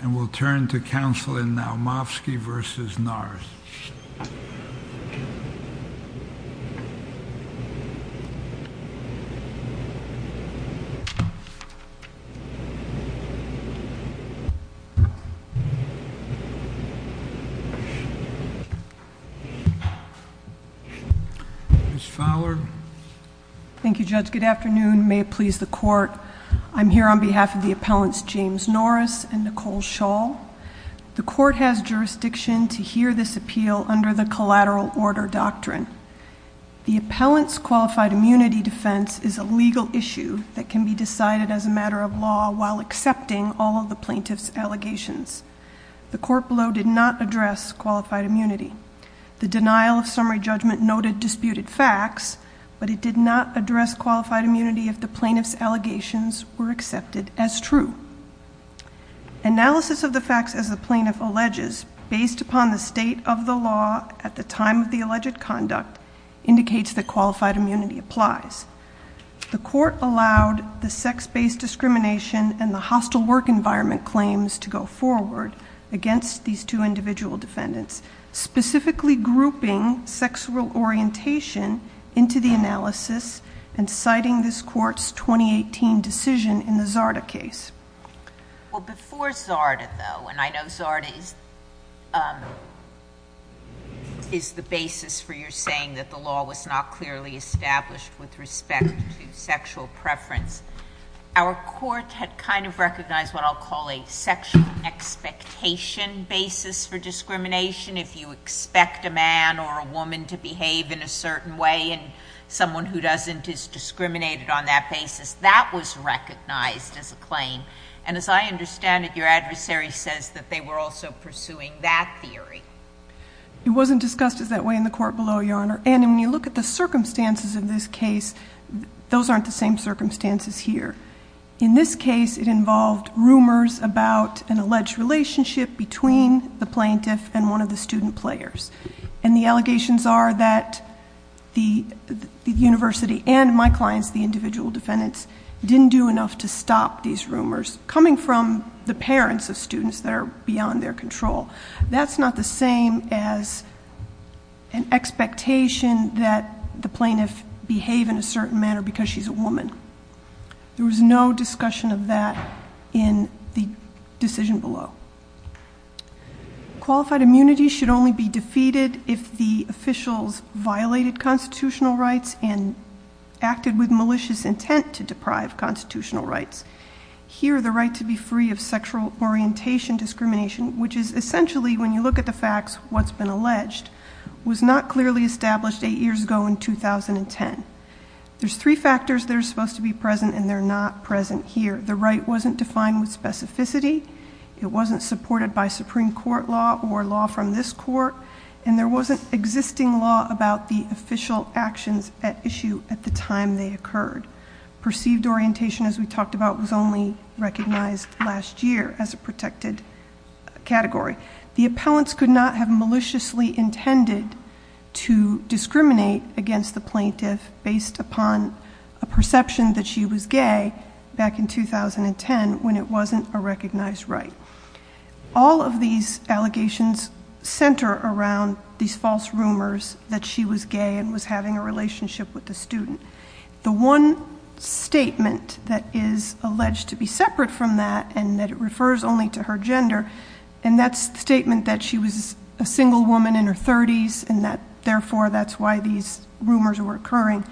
and we'll turn to counsel in Naumovski v. Norris. Ms. Fowler. Thank you, Judge. Good afternoon. May it please the Court, I'm here on behalf of the appellants James Norris and Nicole Shaw. The Court has jurisdiction to hear this appeal under the Collateral Order Doctrine. The appellant's qualified immunity defense is a legal issue that can be decided as a matter of law while accepting all of the plaintiff's allegations. The Court below did not address qualified immunity. The denial of summary judgment noted disputed facts, but it did not address qualified immunity if the plaintiff's allegations were accepted as true. Analysis of the facts as the plaintiff alleges based upon the state of the law at the time of the alleged conduct indicates that qualified immunity applies. The court allowed the sex-based discrimination and the hostile work environment claims to go forward against these two individual defendants, specifically grouping sexual orientation into the analysis and citing this Court's 2018 decision in the Zarda case. Well, before Zarda, though, and I know Zarda is the basis for your saying that the law was not clearly established with respect to sexual preference, our court had kind of recognized what I'll call a sexual expectation basis for discrimination. If you expect a man or a woman to behave in a certain way and someone who doesn't is discriminated on that basis, that was recognized as a claim. And as I understand it, your adversary says that they were also pursuing that theory. It wasn't discussed as that way in the court below, Your Honor. And when you look at the circumstances of this case, those aren't the same circumstances here. In this case, it involved rumors about an alleged relationship between the plaintiff and one of the student players. And the allegations are that the university and my clients, the individual defendants, didn't do enough to stop these rumors coming from the parents of students that are beyond their control. That's not the same as an expectation that the plaintiff behave in a certain manner because she's a woman. There was no discussion of that in the decision below. Qualified immunity should only be defeated if the officials violated constitutional rights and acted with malicious intent to deprive constitutional rights. Here, the right to be free of sexual orientation discrimination, which is essentially, when you look at the facts, what's been alleged, was not clearly established eight years ago in 2010. There's three factors that are supposed to be present, and they're not present here. The right wasn't defined with specificity, it wasn't supported by Supreme Court law or law from this court, and there wasn't existing law about the official actions at issue at the time they occurred. Perceived orientation, as we talked about, was only recognized last year as a protected category. The appellants could not have maliciously intended to discriminate against the plaintiff based upon a perception that she was gay back in 2010 when it wasn't a recognized right. All of these allegations center around these false rumors that she was gay and was having a relationship with the student. The one statement that is alleged to be separate from that, and that it refers only to her gender, and that's the statement that she was a single woman in her 30s, and that, therefore, that's why these rumors were occurring.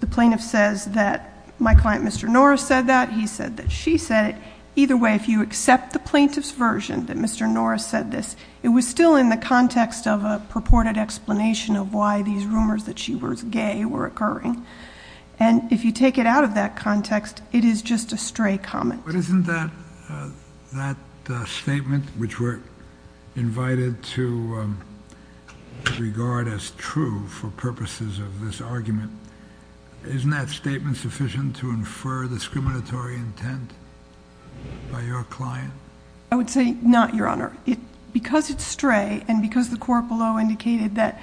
The plaintiff says that my client Mr. Norris said that, he said that she said it. Either way, if you accept the plaintiff's version that Mr. Norris said this, it was still in the context of a purported explanation of why these rumors that she was gay were occurring. And if you take it out of that context, it is just a stray comment. But isn't that statement, which we're invited to regard as true for purposes of this argument, isn't that statement sufficient to infer discriminatory intent by your client? I would say not, Your Honor. Because it's stray, and because the court below indicated that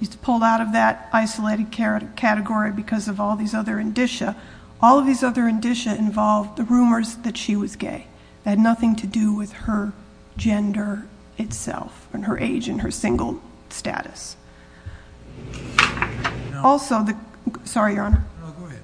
it's pulled out of that isolated category because of all these other indicia. All of these other indicia involve the rumors that she was gay. That had nothing to do with her gender itself, and her age, and her single status. Also the, sorry, Your Honor. No, go ahead.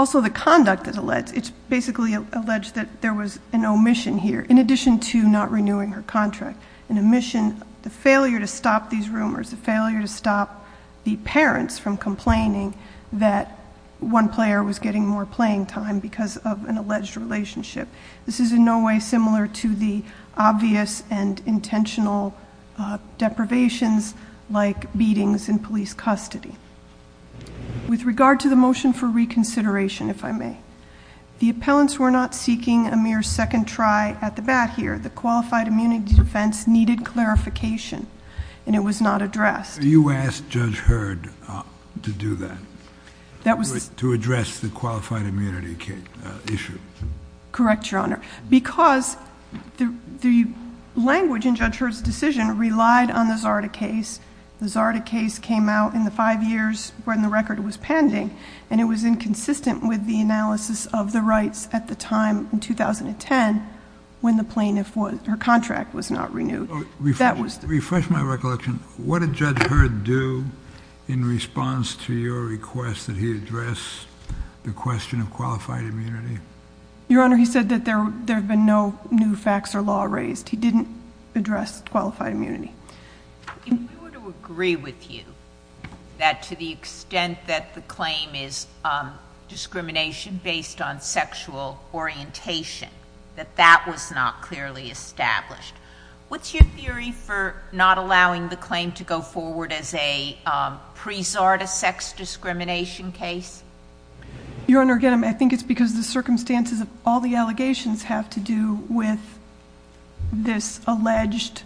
Also the conduct that's alleged, it's basically alleged that there was an omission here, in addition to not renewing her contract. An omission, the failure to stop these rumors, the failure to stop the parents from complaining that one player was getting more playing time because of an alleged relationship. This is in no way similar to the obvious and intentional deprivations like beatings in police custody. With regard to the motion for reconsideration, if I may. The appellants were not seeking a mere second try at the bat here. The qualified immunity defense needed clarification, and it was not addressed. You asked Judge Heard to do that. That was- To address the qualified immunity issue. Correct, Your Honor. Because the language in Judge Heard's decision relied on the Zarda case. The Zarda case came out in the five years when the record was pending, and it was inconsistent with the analysis of the rights at the time, in 2010, when the plaintiff, her contract was not renewed. That was- Refresh my recollection. What did Judge Heard do in response to your request that he address the question of qualified immunity? Your Honor, he said that there have been no new facts or law raised. He didn't address qualified immunity. If we were to agree with you that to the extent that the claim is discrimination based on sexual orientation, that that was not clearly established. What's your theory for not allowing the claim to go forward as a pre-Zarda sex discrimination case? Your Honor, again, I think it's because the circumstances of all the allegations have to do with this alleged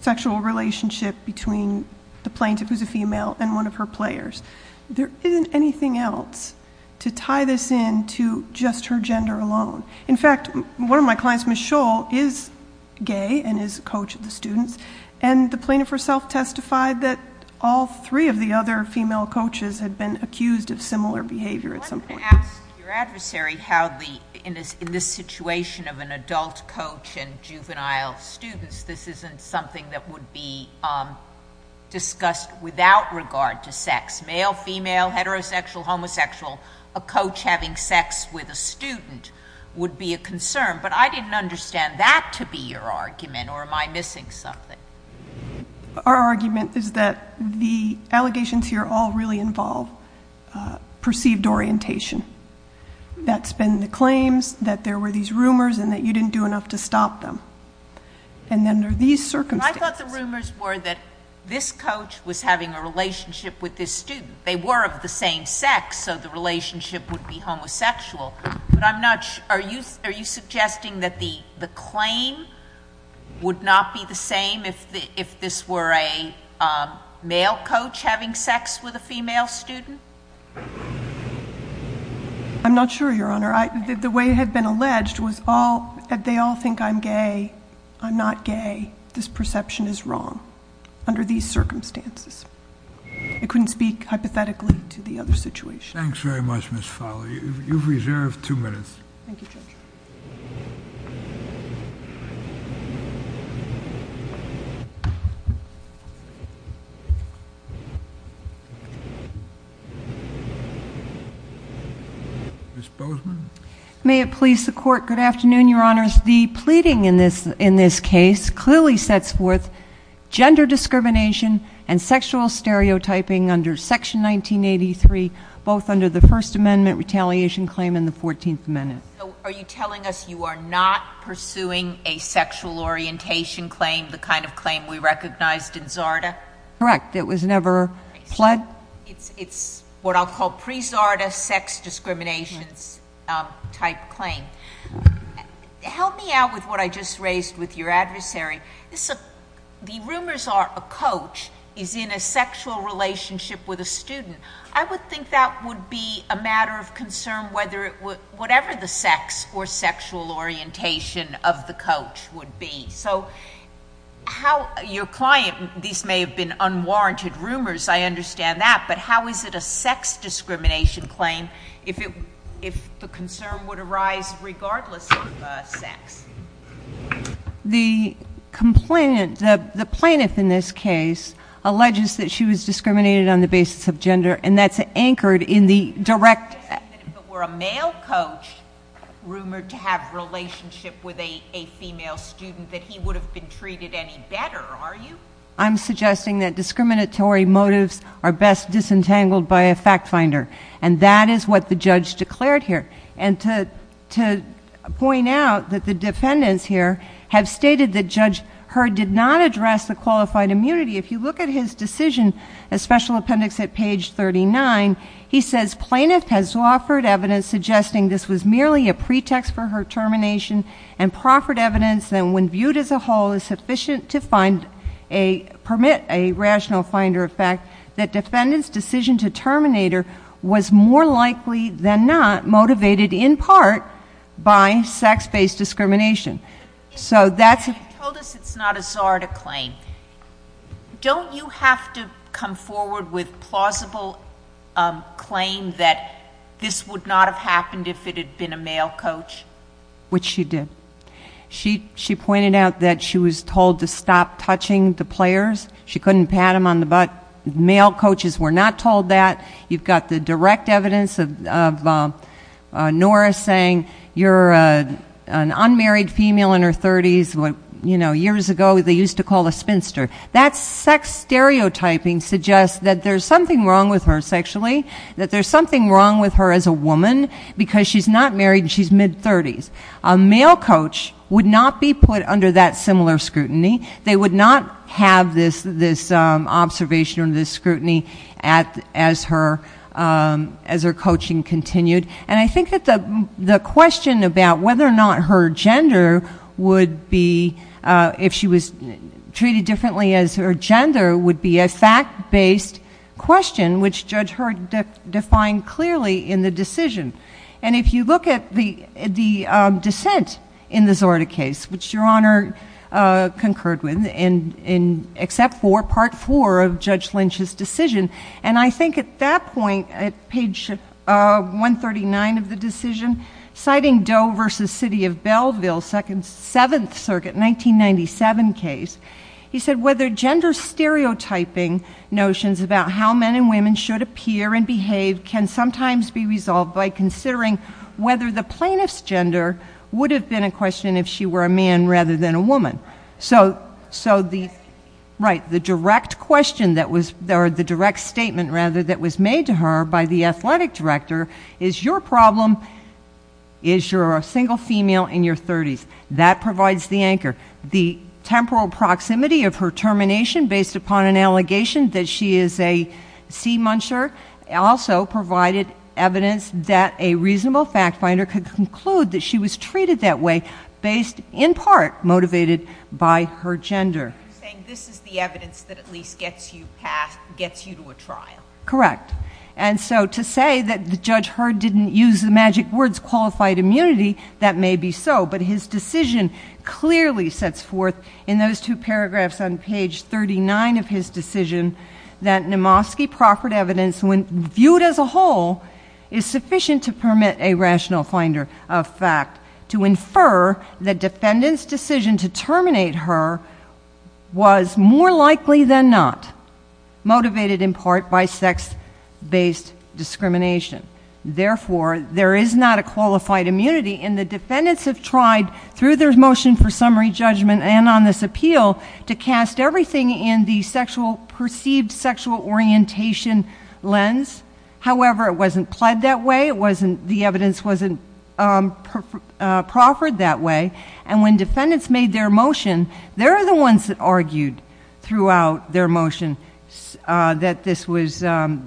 sexual relationship between the plaintiff, who's a female, and one of her players. There isn't anything else to tie this in to just her gender alone. In fact, one of my clients, Michelle, is gay and is a coach of the students. And the plaintiff herself testified that all three of the other female coaches had been accused of similar behavior at some point. I'm going to ask your adversary how in this situation of an adult coach and juvenile students, this isn't something that would be discussed without regard to sex. Male, female, heterosexual, homosexual, a coach having sex with a student would be a concern. But I didn't understand that to be your argument, or am I missing something? Our argument is that the allegations here all really involve perceived orientation. That's been the claims, that there were these rumors, and that you didn't do enough to stop them. And under these circumstances- I thought the rumors were that this coach was having a relationship with this student. They were of the same sex, so the relationship would be homosexual. But I'm not, are you suggesting that the claim would not be the same if this were a male coach having sex with a female student? I'm not sure, Your Honor. The way it had been alleged was they all think I'm gay, I'm not gay. This perception is wrong under these circumstances. I couldn't speak hypothetically to the other situation. Thanks very much, Ms. Fowler. You've reserved two minutes. Thank you, Judge. Ms. Bozeman. May it please the court. Good afternoon, Your Honors. The pleading in this case clearly sets forth gender discrimination and it's under the First Amendment retaliation claim in the 14th Amendment. Are you telling us you are not pursuing a sexual orientation claim, the kind of claim we recognized in Zarda? Correct, it was never pledged. It's what I'll call pre-Zarda sex discriminations type claim. Help me out with what I just raised with your adversary. The rumors are a coach is in a sexual relationship with a student. I would think that would be a matter of concern, whatever the sex or sexual orientation of the coach would be. So, how your client, these may have been unwarranted rumors, I understand that. But how is it a sex discrimination claim if the concern would arise regardless of sex? The complainant, the plaintiff in this case, alleges that she was discriminated on the basis of gender and that's anchored in the direct- It doesn't even if it were a male coach rumored to have relationship with a female student that he would have been treated any better, are you? I'm suggesting that discriminatory motives are best disentangled by a fact finder. And that is what the judge declared here. And to point out that the defendants here have stated that Judge Heard did not address the qualified immunity. If you look at his decision, a special appendix at page 39, he says plaintiff has offered evidence suggesting this was merely a pretext for her termination. And proffered evidence that when viewed as a whole is sufficient to permit a rational finder effect. That defendants decision to terminate her was more likely than not motivated in part by sex based discrimination. So that's- You told us it's not a czar to claim. Don't you have to come forward with plausible claim that this would not have happened if it had been a male coach? Which she did. She pointed out that she was told to stop touching the players. She couldn't pat them on the butt. Male coaches were not told that. You've got the direct evidence of Norah saying, you're an unmarried female in her 30s, what years ago they used to call a spinster. That sex stereotyping suggests that there's something wrong with her sexually, that there's something wrong with her as a woman because she's not married and she's mid 30s. A male coach would not be put under that similar scrutiny. They would not have this observation or this scrutiny as her coaching continued. And I think that the question about whether or not her gender would be, if she was treated differently as her gender, would be a fact based question, which Judge Heard defined clearly in the decision. And if you look at the dissent in the Zorda case, which Your Honor concurred with, except for part four of Judge Lynch's decision. And I think at that point, at page 139 of the decision, citing Doe versus City of Belleville, Seventh Circuit, 1997 case. He said, whether gender stereotyping notions about how men and women should appear and behave can sometimes be resolved by considering whether the plaintiff's gender would have been a question if she were a man rather than a woman. So the direct question that was, or the direct statement rather, that was made to her by the athletic director is your problem is you're a single female in your 30s. That provides the anchor. The temporal proximity of her termination based upon an allegation that she is a sea muncher also provided evidence that a reasonable fact finder could conclude that she was treated that way. Based, in part, motivated by her gender. You're saying this is the evidence that at least gets you to a trial. Correct. And so to say that Judge Heard didn't use the magic words qualified immunity, that may be so. But his decision clearly sets forth in those two paragraphs on page 39 of his decision. That Nemovsky proffered evidence when viewed as a whole is sufficient to permit a rational finder of fact. To infer the defendant's decision to terminate her was more likely than not. Motivated in part by sex based discrimination. Therefore, there is not a qualified immunity and the defendants have tried through their motion for a perceived sexual orientation lens, however, it wasn't pled that way. It wasn't, the evidence wasn't proffered that way. And when defendants made their motion, they're the ones that argued throughout their motion that this was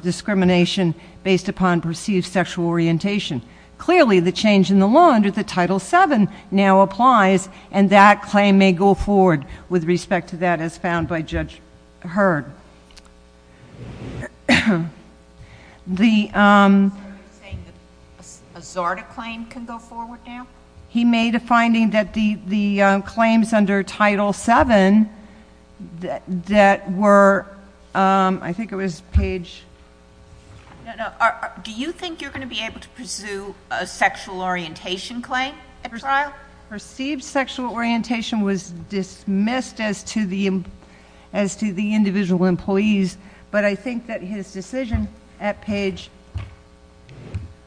discrimination based upon perceived sexual orientation. Clearly, the change in the law under the title seven now applies and that claim may go forward with respect to that as found by Judge Heard. The- Are you saying that a Zarda claim can go forward now? He made a finding that the claims under title seven that were, I think it was page. No, no, do you think you're going to be able to pursue a sexual orientation claim at trial? Perceived sexual orientation was dismissed as to the individual employees, but I think that his decision at page.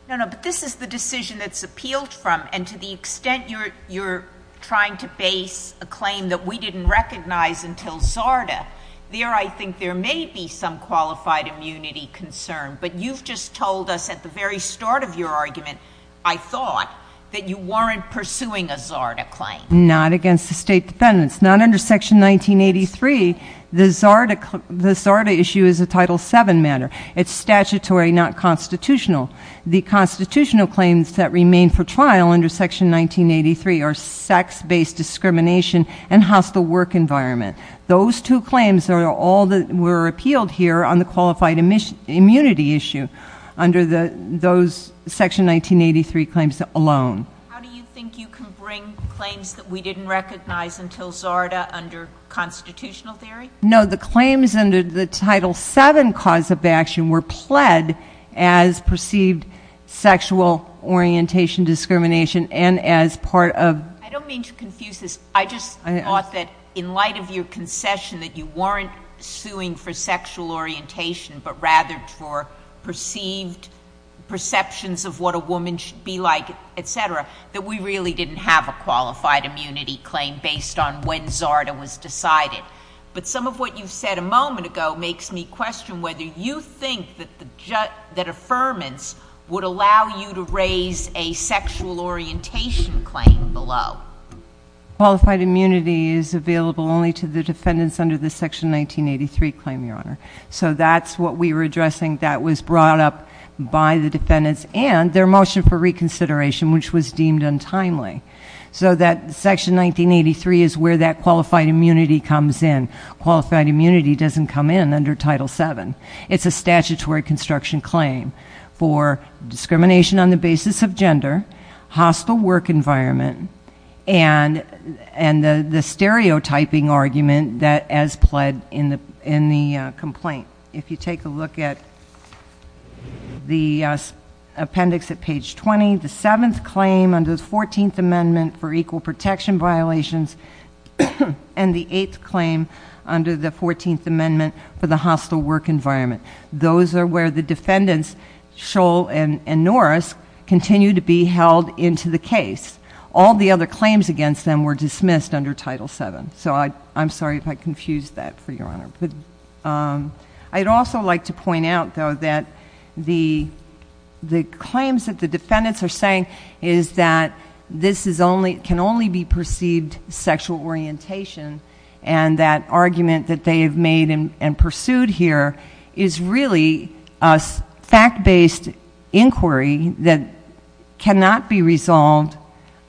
No, no, but this is the decision that's appealed from and to the extent you're trying to base a claim that we didn't recognize until Zarda, there I think there may be some qualified immunity concern, but you've just told us at the very start of your argument, I thought that you weren't pursuing a Zarda claim. Not against the state defendants, not under section 1983, the Zarda issue is a title seven matter. It's statutory, not constitutional. The constitutional claims that remain for trial under section 1983 are sex-based discrimination and hostile work environment. Those two claims are all that were appealed here on the qualified immunity issue under those section 1983 claims alone. How do you think you can bring claims that we didn't recognize until Zarda under constitutional theory? No, the claims under the title seven cause of action were pled as perceived sexual orientation discrimination and as part of- I don't mean to confuse this. I just thought that in light of your concession that you weren't suing for perceived perceptions of what a woman should be like, etc., that we really didn't have a qualified immunity claim based on when Zarda was decided. But some of what you've said a moment ago makes me question whether you think that affirmance would allow you to raise a sexual orientation claim below. Qualified immunity is available only to the defendants under the section 1983 claim, your honor. So that's what we were addressing that was brought up by the defendants and their motion for reconsideration, which was deemed untimely. So that section 1983 is where that qualified immunity comes in. Qualified immunity doesn't come in under title seven. It's a statutory construction claim for discrimination on the basis of gender, hostile work environment, and the stereotyping argument that as pled in the complaint. If you take a look at the appendix at page 20, the seventh claim under the 14th amendment for equal protection violations, and the eighth claim under the 14th amendment for the hostile work environment. Those are where the defendants, Scholl and Norris, continue to be held into the case. All the other claims against them were dismissed under title seven. So I'm sorry if I confused that for your honor. But I'd also like to point out though that the claims that the defendants are saying is that this can only be perceived sexual orientation. And that argument that they have made and pursued here is really a fact based inquiry that cannot be resolved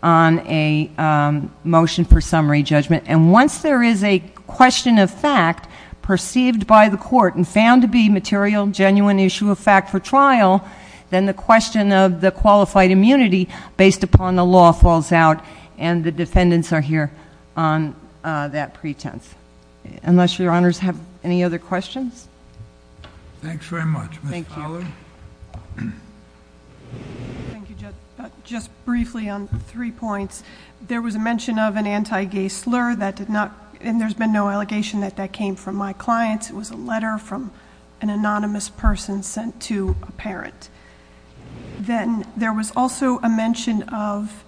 on a motion for summary judgment. And once there is a question of fact perceived by the court and found to be material genuine issue of fact for trial, then the question of the qualified immunity based upon the law falls out. And the defendants are here on that pretense. Unless your honors have any other questions? Thanks very much. Thank you. Ms. Fowler. Thank you, Judge. Just briefly on three points. There was a mention of an anti-gay slur that did not, and there's been no allegation that that came from my clients. It was a letter from an anonymous person sent to a parent. Then there was also a mention of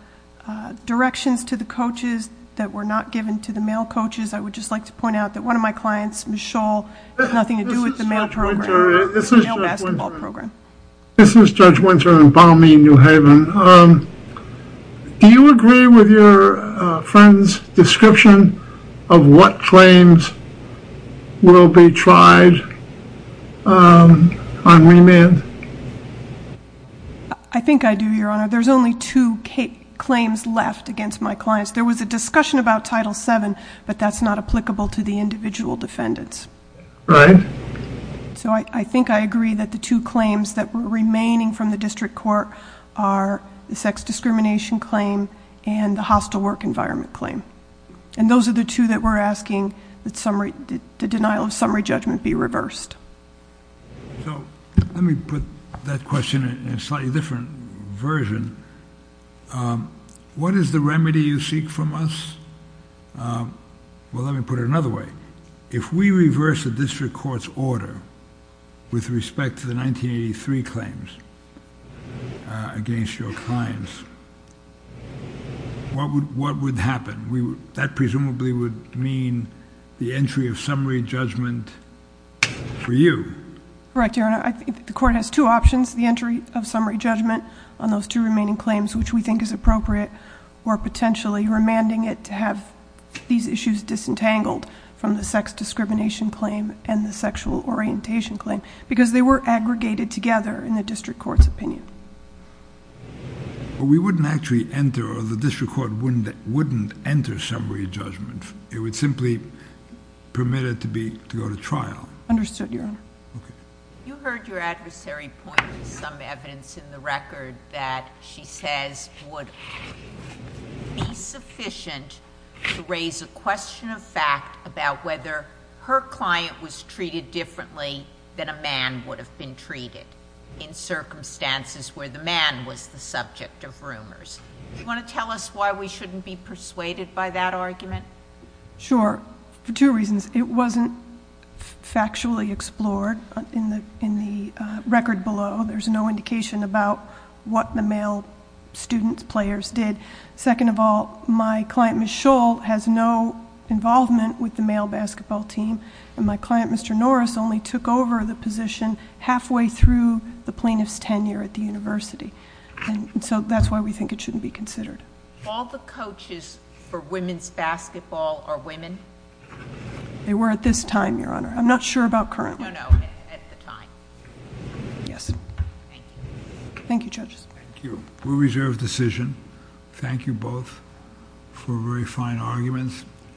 directions to the coaches that were not given to the male coaches. I would just like to point out that one of my clients, Ms. Scholl, had nothing to do with the male program. The male basketball program. This is Judge Winter in Balmey, New Haven. Do you agree with your friend's description of what claims will be tried on remand? I think I do, Your Honor. There's only two claims left against my clients. There was a discussion about Title VII, but that's not applicable to the individual defendants. Right. So I think I agree that the two claims that were remaining from the district court are the sex discrimination claim and the hostile work environment claim. And those are the two that we're asking that the denial of summary judgment be reversed. So let me put that question in a slightly different version. What is the remedy you seek from us? Well, let me put it another way. If we reverse the district court's order with respect to the 1983 claims against your clients, what would happen? That presumably would mean the entry of summary judgment for you. Correct, Your Honor. I think the court has two options. The entry of summary judgment on those two remaining claims, which we think is appropriate, or potentially remanding it to have these issues disentangled from the sex discrimination claim and the sexual orientation claim. Because they were aggregated together in the district court's opinion. But we wouldn't actually enter, or the district court wouldn't enter summary judgment. It would simply permit it to go to trial. Understood, Your Honor. Okay. You heard your adversary point to some evidence in the record that she says would be sufficient to raise a question of fact about whether her client was treated differently than a man would have been treated in circumstances where the man was the subject of rumors. Do you want to tell us why we shouldn't be persuaded by that argument? Sure, for two reasons. It wasn't factually explored in the record below. There's no indication about what the male student players did. Second of all, my client, Ms. Schull, has no involvement with the male basketball team. And my client, Mr. Norris, only took over the position halfway through the plaintiff's tenure at the university. And so that's why we think it shouldn't be considered. All the coaches for women's basketball are women? They were at this time, Your Honor. I'm not sure about currently. No, no, at the time. Yes. Thank you, judges. Thank you. We reserve decision. Thank you both for very fine arguments.